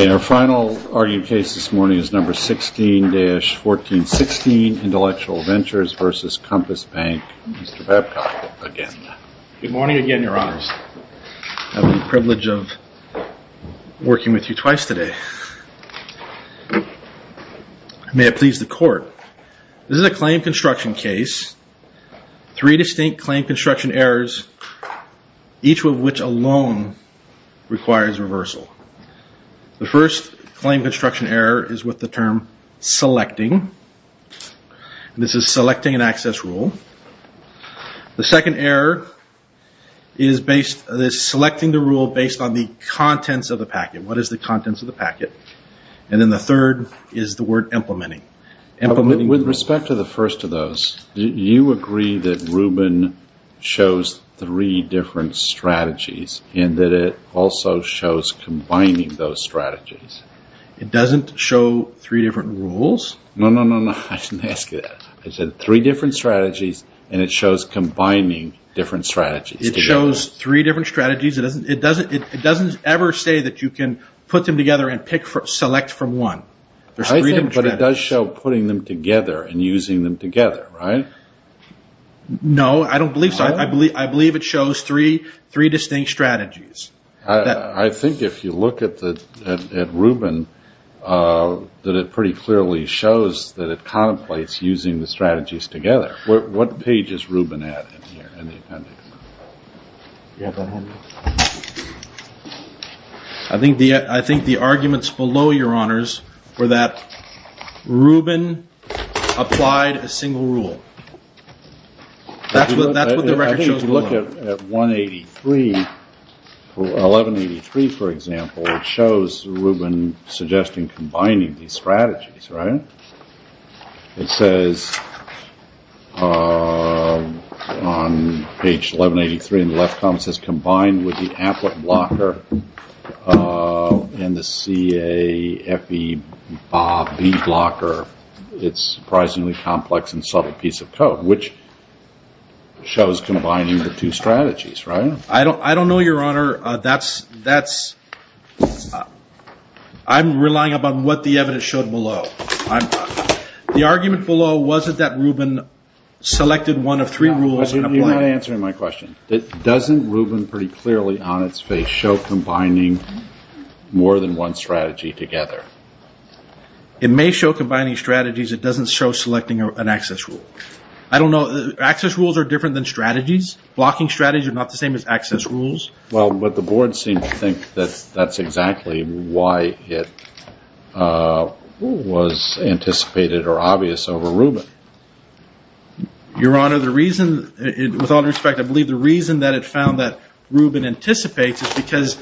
And our final arguing case this morning is number 16-1416 Intellectual Ventures v. Compass Bank. Mr. Babcock again. Good morning again, your honors. I have the privilege of working with you twice today. May it please the court. This is a claim construction case. Three distinct claim construction errors, each of which alone requires reversal. The first claim construction error is with the term selecting. This is selecting an access rule. The second error is selecting the rule based on the contents of the packet. What is the contents of the packet? And then the third is the word implementing. With respect to the first of those, do you agree that Rubin shows three different strategies and that it also shows combining those strategies? It doesn't show three different rules? No, no, no. I didn't ask you that. I said three different strategies and it shows combining different strategies. It shows three different strategies. It doesn't ever say that you can put them together and select from one. But it does show putting them together and using them together, right? No, I don't believe so. I believe it shows three distinct strategies. I think if you look at Rubin, that it pretty clearly shows that it contemplates using the strategies together. What page is Rubin at? I think the I think the arguments below your honors were that Rubin applied a single rule. That's what the record shows. Look at one. Eighty three. Eleven. Eighty three, for example, shows Rubin suggesting combining these strategies. It says on page 1183 in the left column, it says combined with the applet blocker and the C.A.F.E. blocker. It's surprisingly complex and subtle piece of code, which shows combining the two strategies. I don't know, your honor. I'm relying upon what the evidence showed below. The argument below wasn't that Rubin selected one of three rules. You're not answering my question. Doesn't Rubin pretty clearly on its face show combining more than one strategy together? It may show combining strategies. It doesn't show selecting an access rule. I don't know. Access rules are different than strategies. Blocking strategies are not the same as access rules. Well, but the board seems to think that that's exactly why it was anticipated or obvious over Rubin. Your honor, the reason with all respect, I believe the reason that it found that Rubin anticipates is because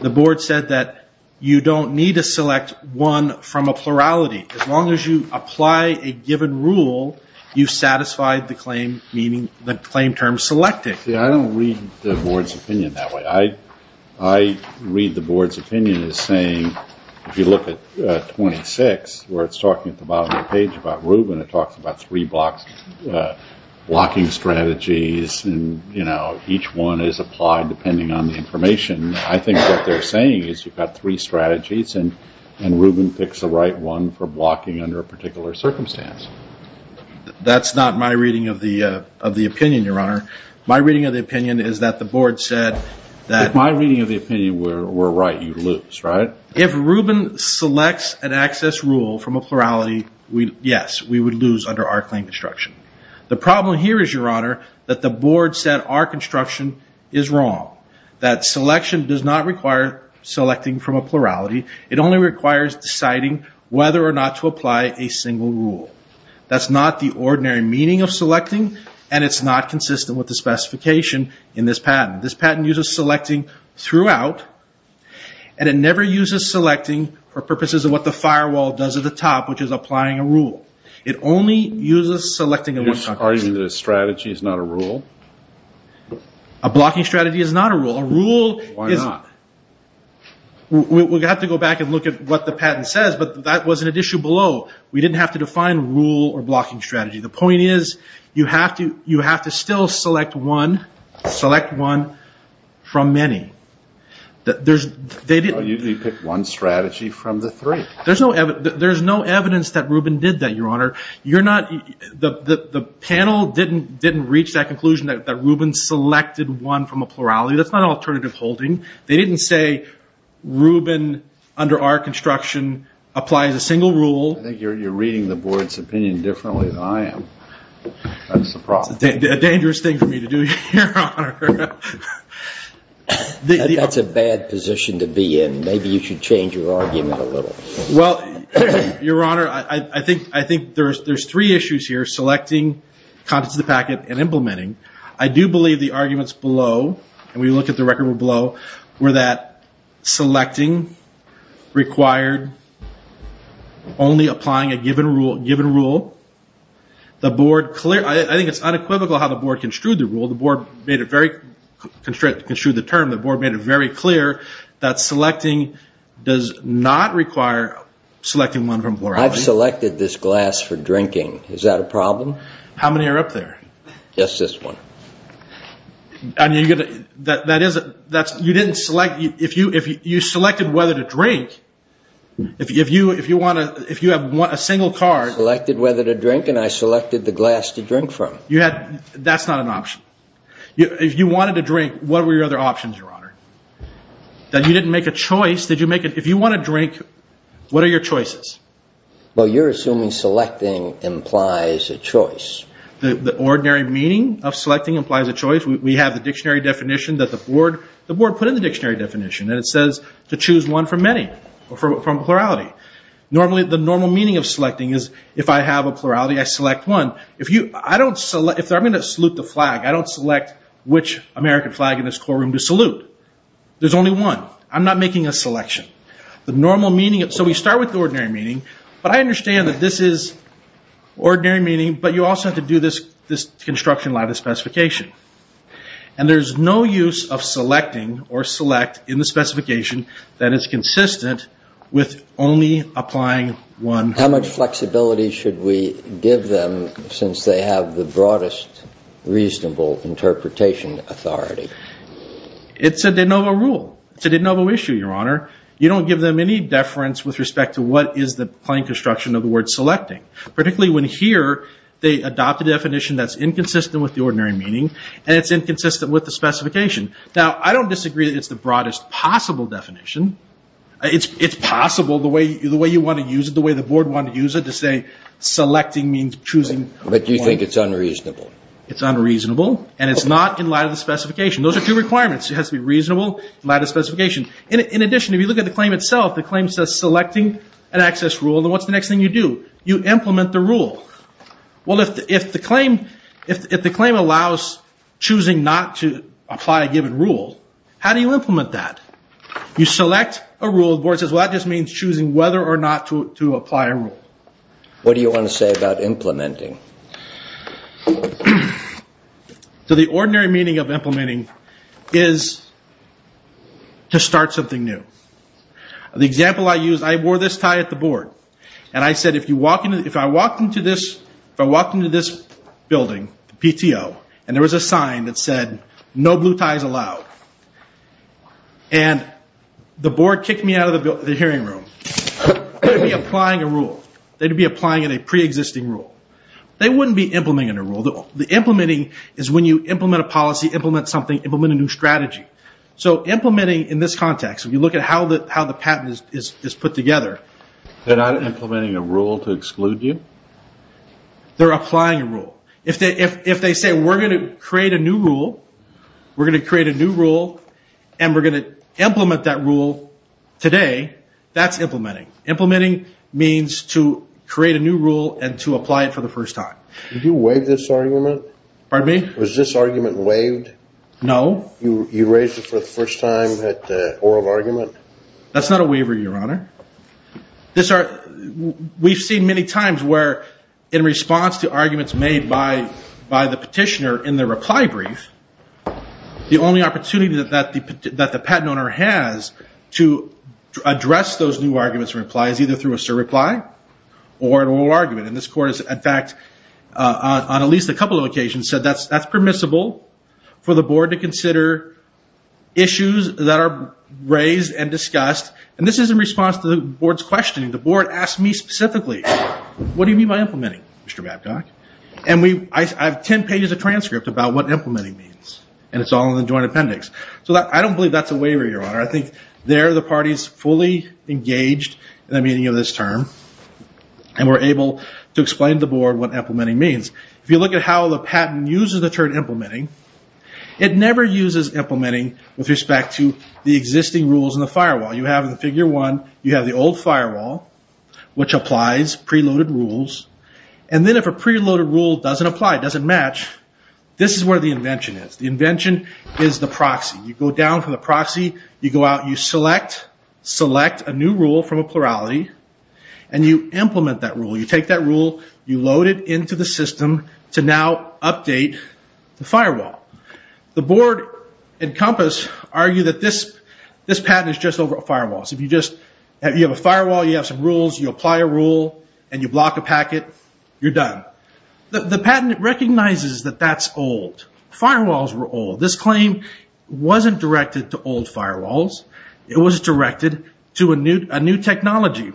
the board said that you don't need to select one from a plurality. As long as you apply a given rule, you've satisfied the claim, meaning the claim term selected. I don't read the board's opinion that way. I read the board's opinion as saying, if you look at 26, where it's talking at the bottom of the page about Rubin, it talks about three blocking strategies and each one is applied depending on the information. I think what they're saying is you've got three strategies and Rubin picks the right one for blocking under a particular circumstance. That's not my reading of the opinion, your honor. My reading of the opinion is that the board said that. If my reading of the opinion were right, you'd lose, right? If Rubin selects an access rule from a plurality, yes, we would lose under our claim construction. The problem here is, your honor, that the board said our construction is wrong. That selection does not require selecting from a plurality. It only requires deciding whether or not to apply a single rule. That's not the ordinary meaning of selecting and it's not consistent with the specification in this patent. This patent uses selecting throughout and it never uses selecting for purposes of what the firewall does at the top, which is applying a rule. It only uses selecting in one circumstance. Are you arguing that a strategy is not a rule? A blocking strategy is not a rule. A rule is... Why not? We'll have to go back and look at what the patent says, but that wasn't an issue below. We didn't have to define rule or blocking strategy. The point is you have to still select one from many. You picked one strategy from the three. There's no evidence that Rubin did that, your honor. The panel didn't reach that conclusion that Rubin selected one from a plurality. That's not an alternative holding. They didn't say Rubin under our construction applies a single rule. I think you're reading the board's opinion differently than I am. That's a problem. It's a dangerous thing for me to do, your honor. That's a bad position to be in. Maybe you should change your argument a little. Well, your honor, I think there's three issues here, selecting, contents of the packet, and implementing. I do believe the arguments below, and we look at the record below, were that selecting required only applying a given rule. I think it's unequivocal how the board construed the rule. Well, the board made it very clear that selecting does not require selecting one from a plurality. I've selected this glass for drinking. Is that a problem? How many are up there? Just this one. If you selected whether to drink, if you have a single card. I selected whether to drink, and I selected the glass to drink from. That's not an option. If you wanted to drink, what were your other options, your honor? That you didn't make a choice. If you want to drink, what are your choices? Well, you're assuming selecting implies a choice. The ordinary meaning of selecting implies a choice. We have the dictionary definition that the board put in the dictionary definition, and it says to choose one from plurality. Normally, the normal meaning of selecting is if I have a plurality, I select one. If I'm going to salute the flag, I don't select which American flag in this courtroom to salute. There's only one. I'm not making a selection. So we start with the ordinary meaning, but I understand that this is ordinary meaning, but you also have to do this construction lattice specification. And there's no use of selecting or select in the specification that is consistent with only applying one. How much flexibility should we give them since they have the broadest reasonable interpretation authority? It's a de novo rule. It's a de novo issue, your honor. You don't give them any deference with respect to what is the plain construction of the word selecting, particularly when here they adopt a definition that's inconsistent with the ordinary meaning and it's inconsistent with the specification. Now, I don't disagree that it's the broadest possible definition. It's possible the way you want to use it, the way the board wanted to use it, to say selecting means choosing one. But you think it's unreasonable. It's unreasonable, and it's not in light of the specification. Those are two requirements. It has to be reasonable in light of the specification. In addition, if you look at the claim itself, the claim says selecting an access rule, then what's the next thing you do? You implement the rule. Well, if the claim allows choosing not to apply a given rule, how do you implement that? You select a rule. The board says, well, that just means choosing whether or not to apply a rule. What do you want to say about implementing? The ordinary meaning of implementing is to start something new. The example I used, I wore this tie at the board, and I said, if I walked into this building, the PTO, and there was a sign that said, no blue ties allowed, and the board kicked me out of the hearing room, they'd be applying a rule. They'd be applying a preexisting rule. They wouldn't be implementing a rule. The implementing is when you implement a policy, implement something, implement a new strategy. So implementing in this context, if you look at how the patent is put together. They're not implementing a rule to exclude you? They're applying a rule. If they say, we're going to create a new rule, we're going to create a new rule, and we're going to implement that rule today, that's implementing. Implementing means to create a new rule and to apply it for the first time. Did you waive this argument? Pardon me? Was this argument waived? No. You raised it for the first time at oral argument? That's not a waiver, Your Honor. We've seen many times where in response to arguments made by the petitioner in the reply brief, the only opportunity that the patent owner has to address those new arguments and replies is either through a surreply or an oral argument. And this court has, in fact, on at least a couple of occasions, said that's permissible for the board to consider issues that are raised and discussed. And this is in response to the board's questioning. The board asked me specifically, what do you mean by implementing, Mr. Babcock? And I have ten pages of transcript about what implementing means, and it's all in the joint appendix. So I don't believe that's a waiver, Your Honor. I think there the party's fully engaged in the meaning of this term and were able to explain to the board what implementing means. If you look at how the patent uses the term implementing, it never uses implementing with respect to the existing rules in the firewall. You have in the Figure 1, you have the old firewall, which applies preloaded rules. And then if a preloaded rule doesn't apply, doesn't match, this is where the invention is. The invention is the proxy. You go down from the proxy, you go out, you select, select a new rule from a plurality, and you implement that rule. You take that rule, you load it into the system to now update the firewall. The board and COMPASS argue that this patent is just over firewalls. If you have a firewall, you have some rules, you apply a rule, and you block a packet, you're done. The patent recognizes that that's old. Firewalls were old. This claim wasn't directed to old firewalls. It was directed to a new technology.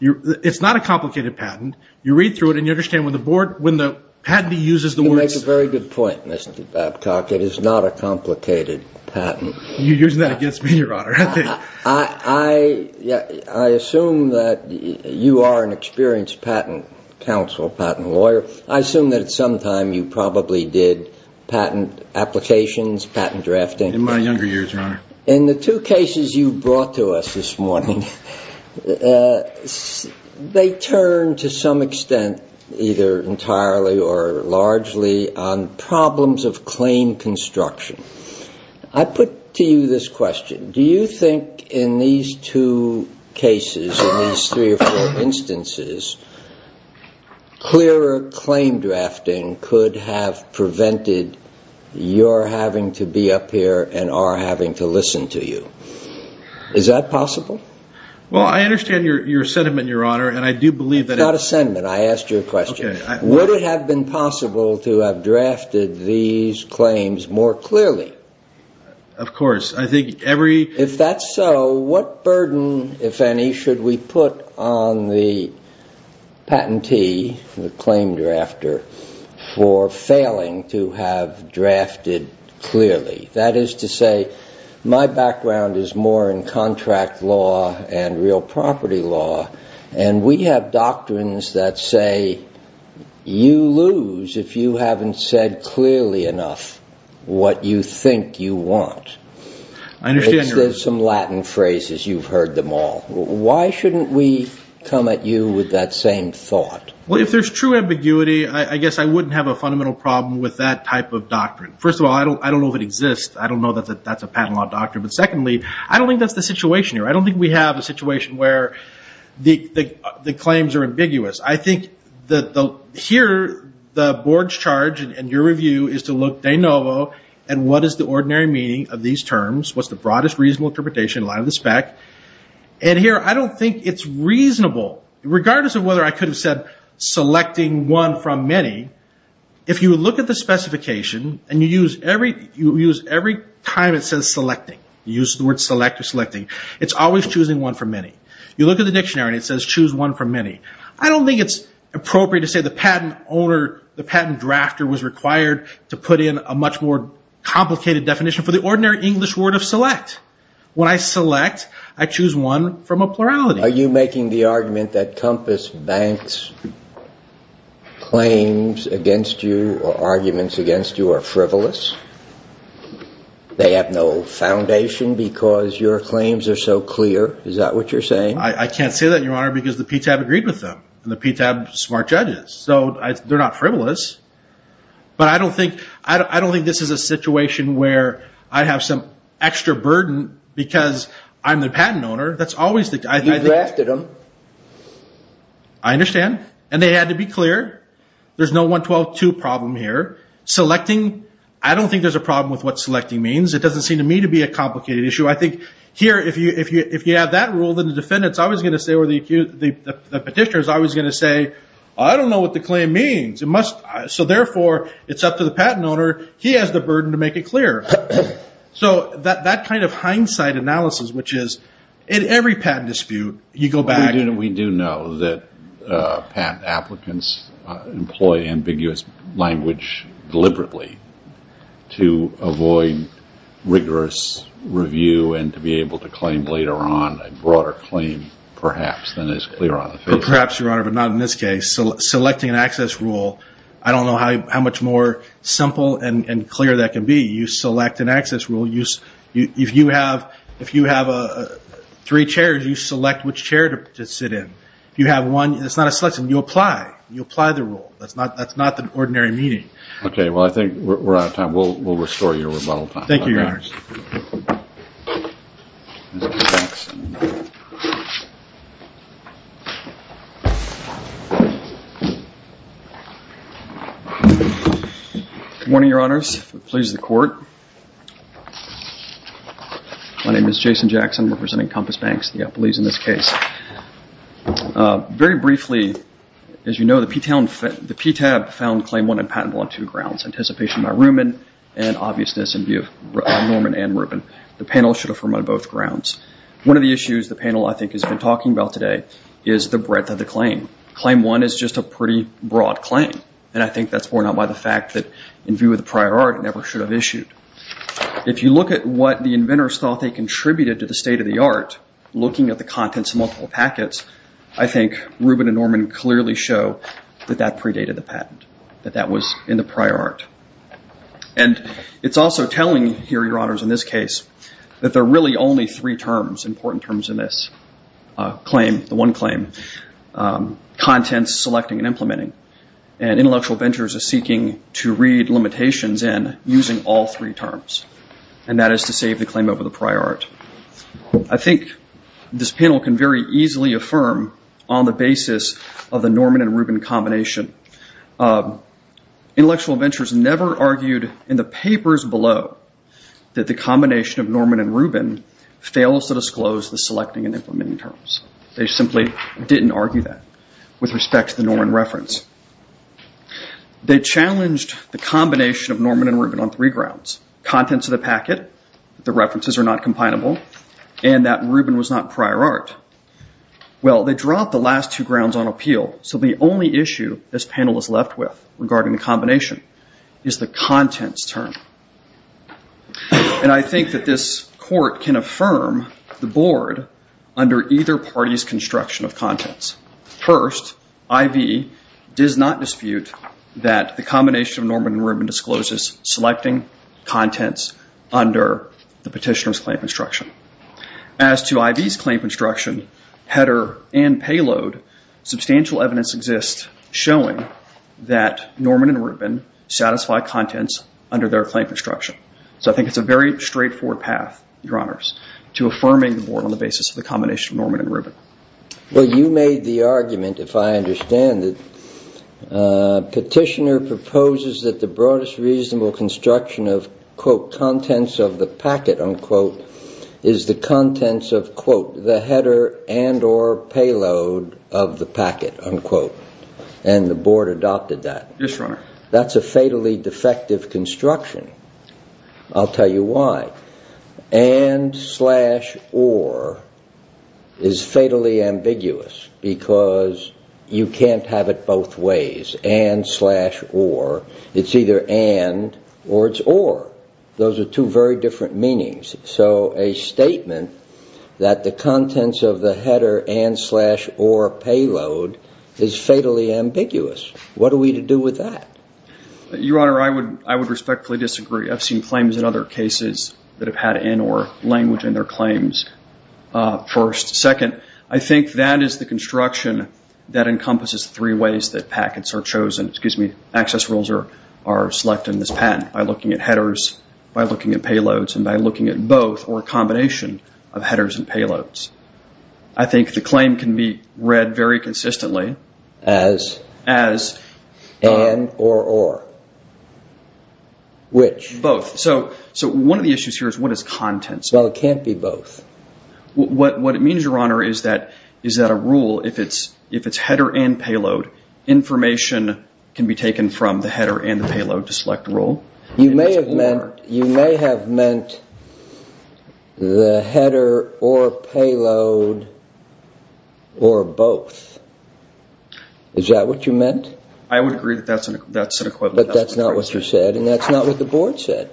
It's not a complicated patent. You read through it and you understand when the board, when the patent uses the word. You make a very good point, Mr. Babcock. It is not a complicated patent. You're using that against me, Your Honor. I assume that you are an experienced patent counsel, patent lawyer. I assume that at some time you probably did patent applications, patent drafting. In my younger years, Your Honor. In the two cases you brought to us this morning, they turn to some extent, either entirely or largely, on problems of claim construction. I put to you this question. Do you think in these two cases, in these three or four instances, clearer claim drafting could have prevented your having to be up here and our having to listen to you? Is that possible? Well, I understand your sentiment, Your Honor, and I do believe that it... It's not a sentiment. I asked you a question. Would it have been possible to have drafted these claims more clearly? Of course. I think every... patentee, the claim drafter, for failing to have drafted clearly. That is to say, my background is more in contract law and real property law, and we have doctrines that say you lose if you haven't said clearly enough what you think you want. I understand, Your Honor. There's some Latin phrases. You've heard them all. Why shouldn't we come at you with that same thought? Well, if there's true ambiguity, I guess I wouldn't have a fundamental problem with that type of doctrine. First of all, I don't know if it exists. I don't know that that's a patent law doctrine. But secondly, I don't think that's the situation here. I don't think we have a situation where the claims are ambiguous. I think that the... Here, the board's charge in your review is to look de novo at what is the ordinary meaning of these terms, what's the broadest reasonable interpretation in line with the spec. And here, I don't think it's reasonable, regardless of whether I could have said selecting one from many. If you look at the specification, and you use every time it says selecting, you use the word select or selecting, it's always choosing one from many. You look at the dictionary, and it says choose one from many. I don't think it's appropriate to say the patent owner, the patent drafter, was required to put in a much more complicated definition for the ordinary English word of select. When I select, I choose one from a plurality. Are you making the argument that Compass Bank's claims against you or arguments against you are frivolous? They have no foundation because your claims are so clear? Is that what you're saying? I can't say that, Your Honor, because the PTAB agreed with them. And the PTAB is smart judges, so they're not frivolous. But I don't think this is a situation where I have some extra burden because I'm the patent owner. You drafted them. I understand, and they had to be clear. There's no 112.2 problem here. I don't think there's a problem with what selecting means. It doesn't seem to me to be a complicated issue. I think here, if you have that rule, then the petitioner is always going to say, I don't know what the claim means. So therefore, it's up to the patent owner. He has the burden to make it clear. So that kind of hindsight analysis, which is in every patent dispute, you go back. We do know that patent applicants employ ambiguous language deliberately to avoid rigorous review and to be able to claim later on a broader claim perhaps than is clear on the paper. Perhaps, Your Honor, but not in this case. Selecting an access rule, I don't know how much more simple and clear that can be. You select an access rule. If you have three chairs, you select which chair to sit in. You have one. It's not a selection. You apply. You apply the rule. That's not the ordinary meeting. Okay. Well, I think we're out of time. We'll restore your rebuttal time. Thank you, Your Honor. Good morning, Your Honors. Please, the court. My name is Jason Jackson, representing Compass Banks, the appellees in this case. Very briefly, as you know, the PTAB found Claim 1 impotent on two grounds, anticipation by Rubin and obviousness in view of Norman and Rubin. The panel should affirm on both grounds. One of the issues the panel, I think, has been talking about today is the breadth of the claim. Claim 1 is just a pretty broad claim, and I think that's borne out by the fact that in view of the prior art, it never should have issued. If you look at what the inventors thought they contributed to the state of the art, looking at the contents of multiple packets, I think Rubin and Norman clearly show that that predated the patent, that that was in the prior art. And it's also telling here, Your Honors, in this case, that there are really only three terms, important terms in this claim, the one claim, contents, selecting, and implementing. And intellectual ventures are seeking to read limitations in using all three terms, and that is to save the claim over the prior art. I think this panel can very easily affirm on the basis of the Norman and Rubin combination. Intellectual ventures never argued in the papers below that the combination of Norman and Rubin fails to disclose the selecting and implementing terms. They simply didn't argue that with respect to the Norman reference. They challenged the combination of Norman and Rubin on three grounds. Contents of the packet, the references are not combinable, and that Rubin was not prior art. Well, they dropped the last two grounds on appeal, so the only issue this panel is left with regarding the combination is the contents term. And I think that this court can affirm the board under either party's construction of contents. First, I.V. does not dispute that the combination of Norman and Rubin discloses selecting contents under the petitioner's claim construction. As to I.V.'s claim construction, header and payload, substantial evidence exists showing that Norman and Rubin satisfy contents under their claim construction. So I think it's a very straightforward path, Your Honors, to affirming the board on the basis of the combination of Norman and Rubin. Well, you made the argument, if I understand it, petitioner proposes that the broadest reasonable construction of, quote, contents of the packet, unquote, is the contents of, quote, the header and or payload of the packet, unquote. And the board adopted that. Yes, Your Honor. That's a fatally defective construction. I'll tell you why. And slash or is fatally ambiguous because you can't have it both ways, and slash or. It's either and or it's or. Those are two very different meanings. So a statement that the contents of the header and slash or payload is fatally ambiguous. What are we to do with that? Your Honor, I would respectfully disagree. I've seen claims in other cases that have had and or language in their claims first. Second, I think that is the construction that encompasses three ways that packets are chosen, excuse me, access rules are selected in this patent, by looking at headers, by looking at payloads, and by looking at both or a combination of headers and payloads. I think the claim can be read very consistently. As? As. And or or. Which? Both. So one of the issues here is what is contents? Well, it can't be both. What it means, Your Honor, is that a rule, if it's header and payload, information can be taken from the header and the payload to select a rule. You may have meant the header or payload or both. Is that what you meant? I would agree that that's an equivalent. But that's not what you said and that's not what the Board said.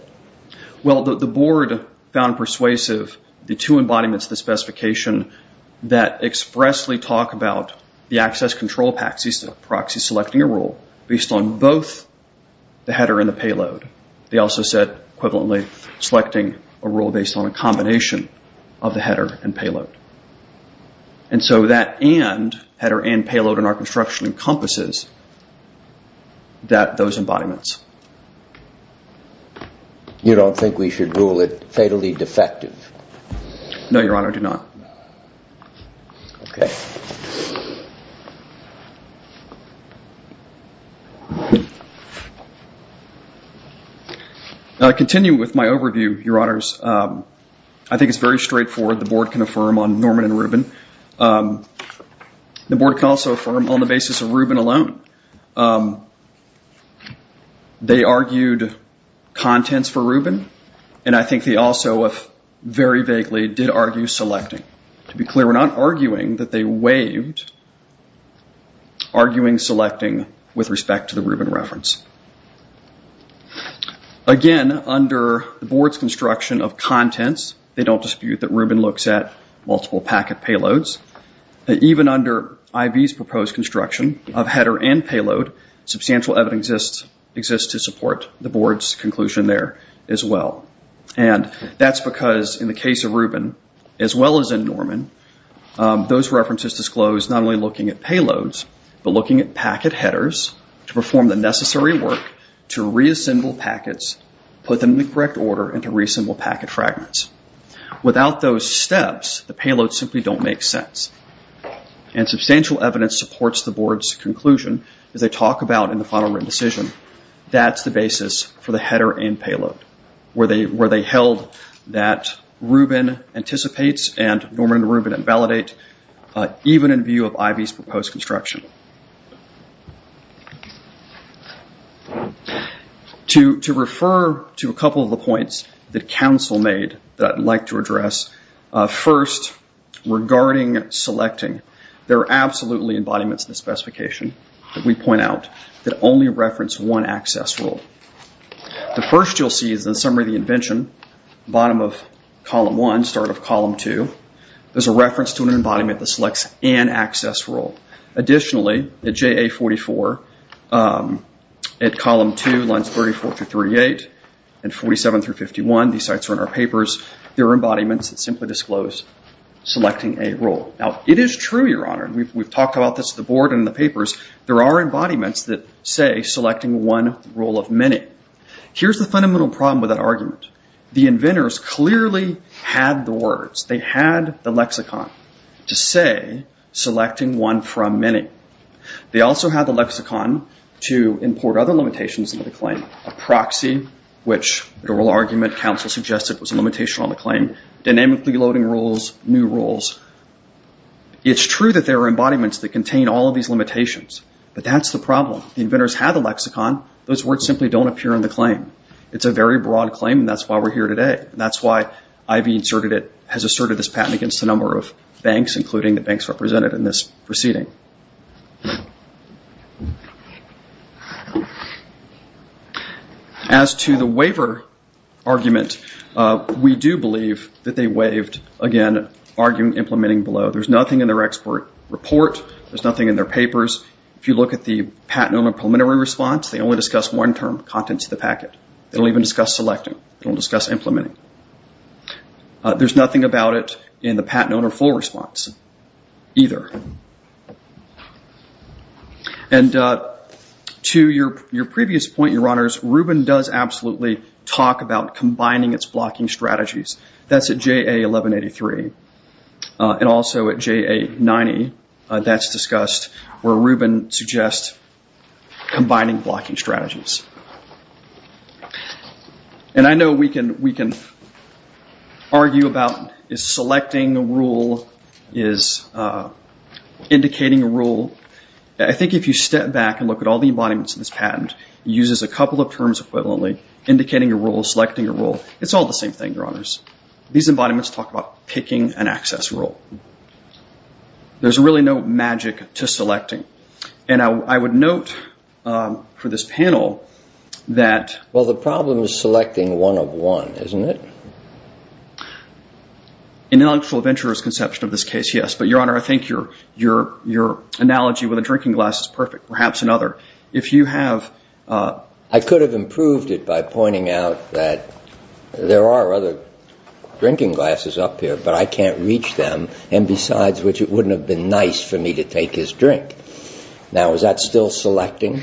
Well, the Board found persuasive the two embodiments of the specification that expressly talk about the access control proxy selecting a rule based on both the header and the payload. They also said equivalently selecting a rule based on a combination of the header and payload. And so that and, header and payload in our construction encompasses those embodiments. You don't think we should rule it fatally defective? No, Your Honor, I do not. Continuing with my overview, Your Honors, I think it's very straightforward. The Board can affirm on Norman and Rubin. The Board can also affirm on the basis of Rubin alone. They argued contents for Rubin and I think they also, very vaguely, did argue selecting. To be clear, we're not arguing that they waived arguing selecting with respect to the Rubin reference. Again, under the Board's construction of contents, they don't dispute that Rubin looks at multiple packet payloads. Even under IV's proposed construction of header and payload, substantial evidence exists to support the Board's conclusion there as well. And that's because in the case of Rubin, as well as in Norman, those references disclose not only looking at payloads, but looking at packet headers to perform the necessary work to reassemble packets, put them in the correct order and to reassemble packet fragments. Without those steps, the payloads simply don't make sense. Substantial evidence supports the Board's conclusion as they talk about in the final written decision. That's the basis for the header and payload where they held that Rubin anticipates and Norman and Rubin invalidate even in view of IV's proposed construction. To refer to a couple of the points that counsel made that I'd like to address, first, regarding selecting, there are absolutely embodiments in the specification that we point out that only reference one access rule. The first you'll see is the summary of the invention, bottom of column one, start of column two. There's a reference to an embodiment that selects an access rule. Additionally, at JA44, at column two, lines 34 through 38, and 47 through 51, these sites are in our papers, there are embodiments that simply disclose selecting a rule. Now, it is true, Your Honor, and we've talked about this at the Board and in the papers, there are embodiments that say selecting one rule of many. Here's the fundamental problem with that argument. The inventors clearly had the words. They had the lexicon to say selecting one from many. They also had the lexicon to import other limitations into the claim, a proxy, which the oral argument counsel suggested was a limitation on the claim, dynamically loading rules, new rules. It's true that there are embodiments that contain all of these limitations, but that's the problem. The inventors had the lexicon. Those words simply don't appear in the claim. It's a very broad claim, and that's why we're here today. That's why Ivey has asserted this patent against a number of banks, including the banks represented in this proceeding. As to the waiver argument, we do believe that they waived, again, argument implementing below. There's nothing in their expert report. There's nothing in their papers. If you look at the patent owner preliminary response, they only discuss one term, contents of the packet. They don't even discuss selecting. They don't discuss implementing. There's nothing about it in the patent owner full response either. To your previous point, Your Honors, Rubin does absolutely talk about combining its blocking strategies. That's at JA 1183 and also at JA 90. That's discussed where Rubin suggests combining blocking strategies. And I know we can argue about is selecting a rule, is indicating a rule. I think if you step back and look at all the embodiments in this patent, it uses a couple of terms equivalently, indicating a rule, selecting a rule. It's all the same thing, Your Honors. These embodiments talk about picking an access rule. There's really no magic to selecting. And I would note for this panel that- Well, the problem is selecting one of one, isn't it? In an actual venturer's conception of this case, yes. But, Your Honor, I think your analogy with a drinking glass is perfect, perhaps another. If you have- I could have improved it by pointing out that there are other drinking glasses up here, but I can't reach them, and besides which, it wouldn't have been nice for me to take his drink. Now, is that still selecting?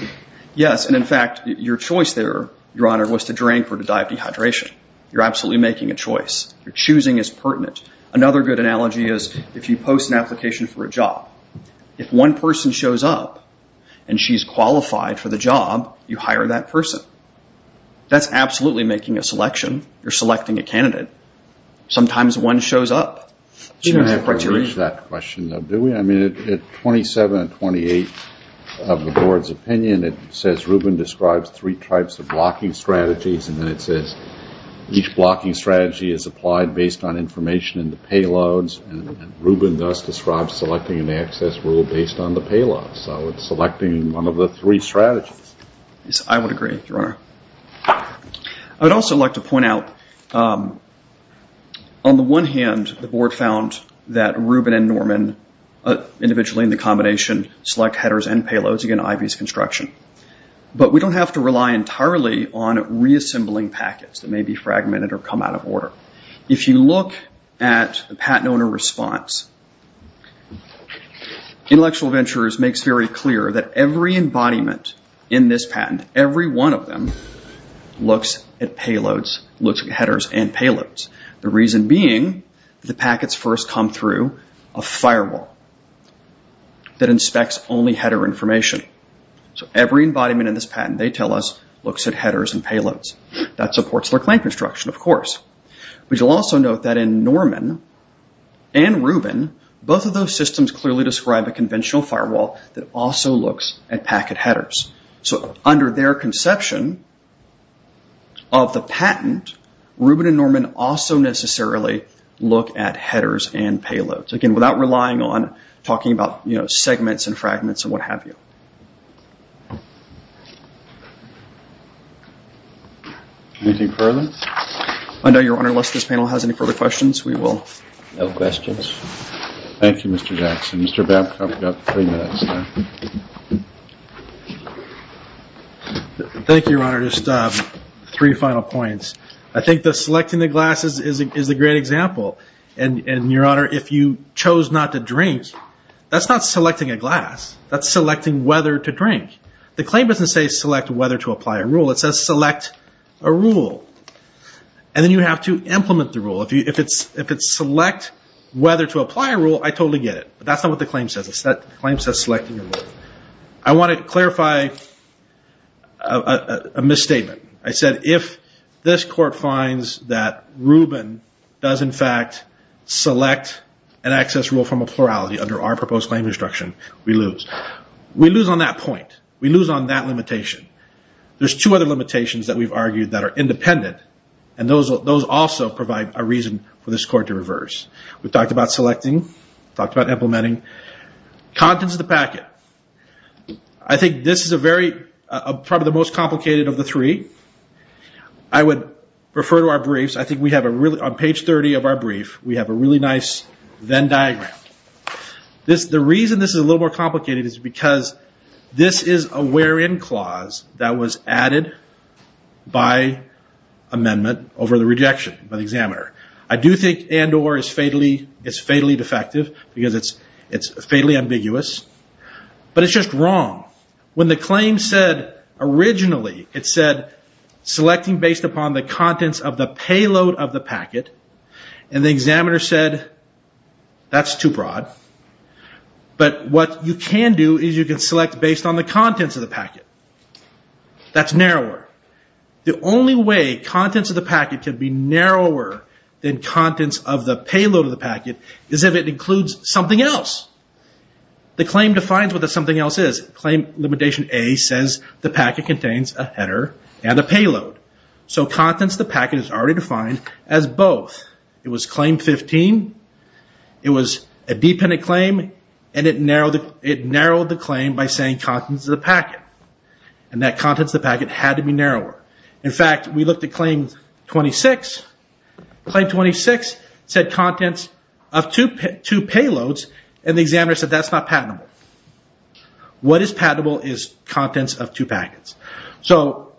Yes, and in fact, your choice there, Your Honor, was to drink or to die of dehydration. You're absolutely making a choice. Your choosing is pertinent. Another good analogy is if you post an application for a job. If one person shows up and she's qualified for the job, you hire that person. That's absolutely making a selection. You're selecting a candidate. Sometimes one shows up. Do we have to reach that question, though? Do we? I mean, at 27 and 28 of the Board's opinion, it says Rubin describes three types of blocking strategies, and then it says each blocking strategy is applied based on information in the payloads, and Rubin does describe selecting an access rule based on the payloads. So it's selecting one of the three strategies. Yes, I would agree, Your Honor. I would also like to point out, on the one hand, the Board found that Rubin and Norman, individually in the combination, select headers and payloads. Again, Ivy's construction. But we don't have to rely entirely on reassembling packets that may be fragmented or come out of order. If you look at the patent owner response, Intellectual Ventures makes very clear that every embodiment in this patent, every one of them, looks at headers and payloads. The reason being the packets first come through a firewall that inspects only header information. So every embodiment in this patent, they tell us, looks at headers and payloads. That supports their client construction, of course. But you'll also note that in Norman and Rubin, both of those systems clearly describe a conventional firewall that also looks at packet headers. So under their conception of the patent, Rubin and Norman also necessarily look at headers and payloads. Again, without relying on talking about segments and fragments and what have you. I know, Your Honor, unless this panel has any further questions, we will. No questions. Thank you, Mr. Jackson. Thank you, Your Honor. Just three final points. I think that selecting the glasses is a great example. And, Your Honor, if you chose not to drink, that's not selecting a glass. That's selecting whether to drink. The claim doesn't say select whether to apply a rule. It says select a rule. And then you have to implement the rule. If it's select whether to apply a rule, I totally get it. But that's not what the claim says. The claim says selecting a rule. I want to clarify a misstatement. I said if this court finds that Rubin does, in fact, select an access rule from a plurality under our proposed claim instruction, we lose. We lose on that point. We lose on that limitation. There's two other limitations that we've argued that are independent. And those also provide a reason for this court to reverse. We've talked about selecting. We've talked about implementing. Contents of the packet. I think this is probably the most complicated of the three. I would refer to our briefs. On page 30 of our brief, we have a really nice Venn diagram. The reason this is a little more complicated is because this is a where-in clause that was added by amendment over the rejection by the examiner. I do think and or is fatally defective because it's fatally ambiguous. But it's just wrong. When the claim said originally, it said selecting based upon the contents of the payload of the packet. And the examiner said, that's too broad. But what you can do is you can select based on the contents of the packet. That's narrower. The only way contents of the packet can be narrower than contents of the payload of the packet is if it includes something else. The claim defines what the something else is. Claim limitation A says the packet contains a header and a payload. So contents of the packet is already defined as both. It was claim 15. It was a dependent claim. And it narrowed the claim by saying contents of the packet. And that contents of the packet had to be narrower. In fact, we looked at claim 26. Claim 26 said contents of two payloads. And the examiner said that's not patentable. What is patentable is contents of two packets. So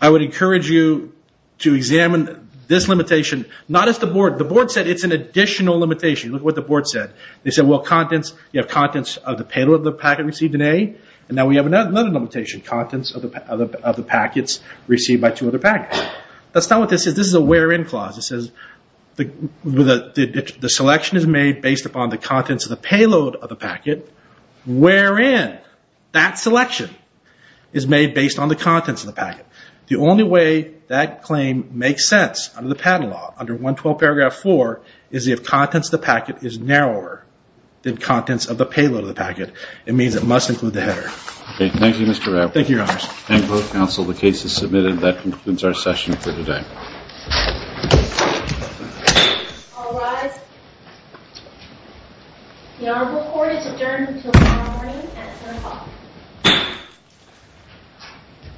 I would encourage you to examine this limitation. Not as the board. The board said it's an additional limitation. Look at what the board said. They said you have contents of the payload of the packet received in A. And now we have another limitation. Contents of the packets received by two other packets. That's not what this is. This is a where in clause. It says the selection is made based upon the contents of the payload of the packet. Where in? That selection is made based on the contents of the packet. The only way that claim makes sense under the patent law, under 112 paragraph 4, is if contents of the packet is narrower than contents of the payload of the packet. It means it must include the header. Thank you, Mr. Rapp. Thank you, your honors. Thank you, counsel. The case is submitted. That concludes our session for today. All rise. The honorable court is adjourned until tomorrow morning at 7 o'clock.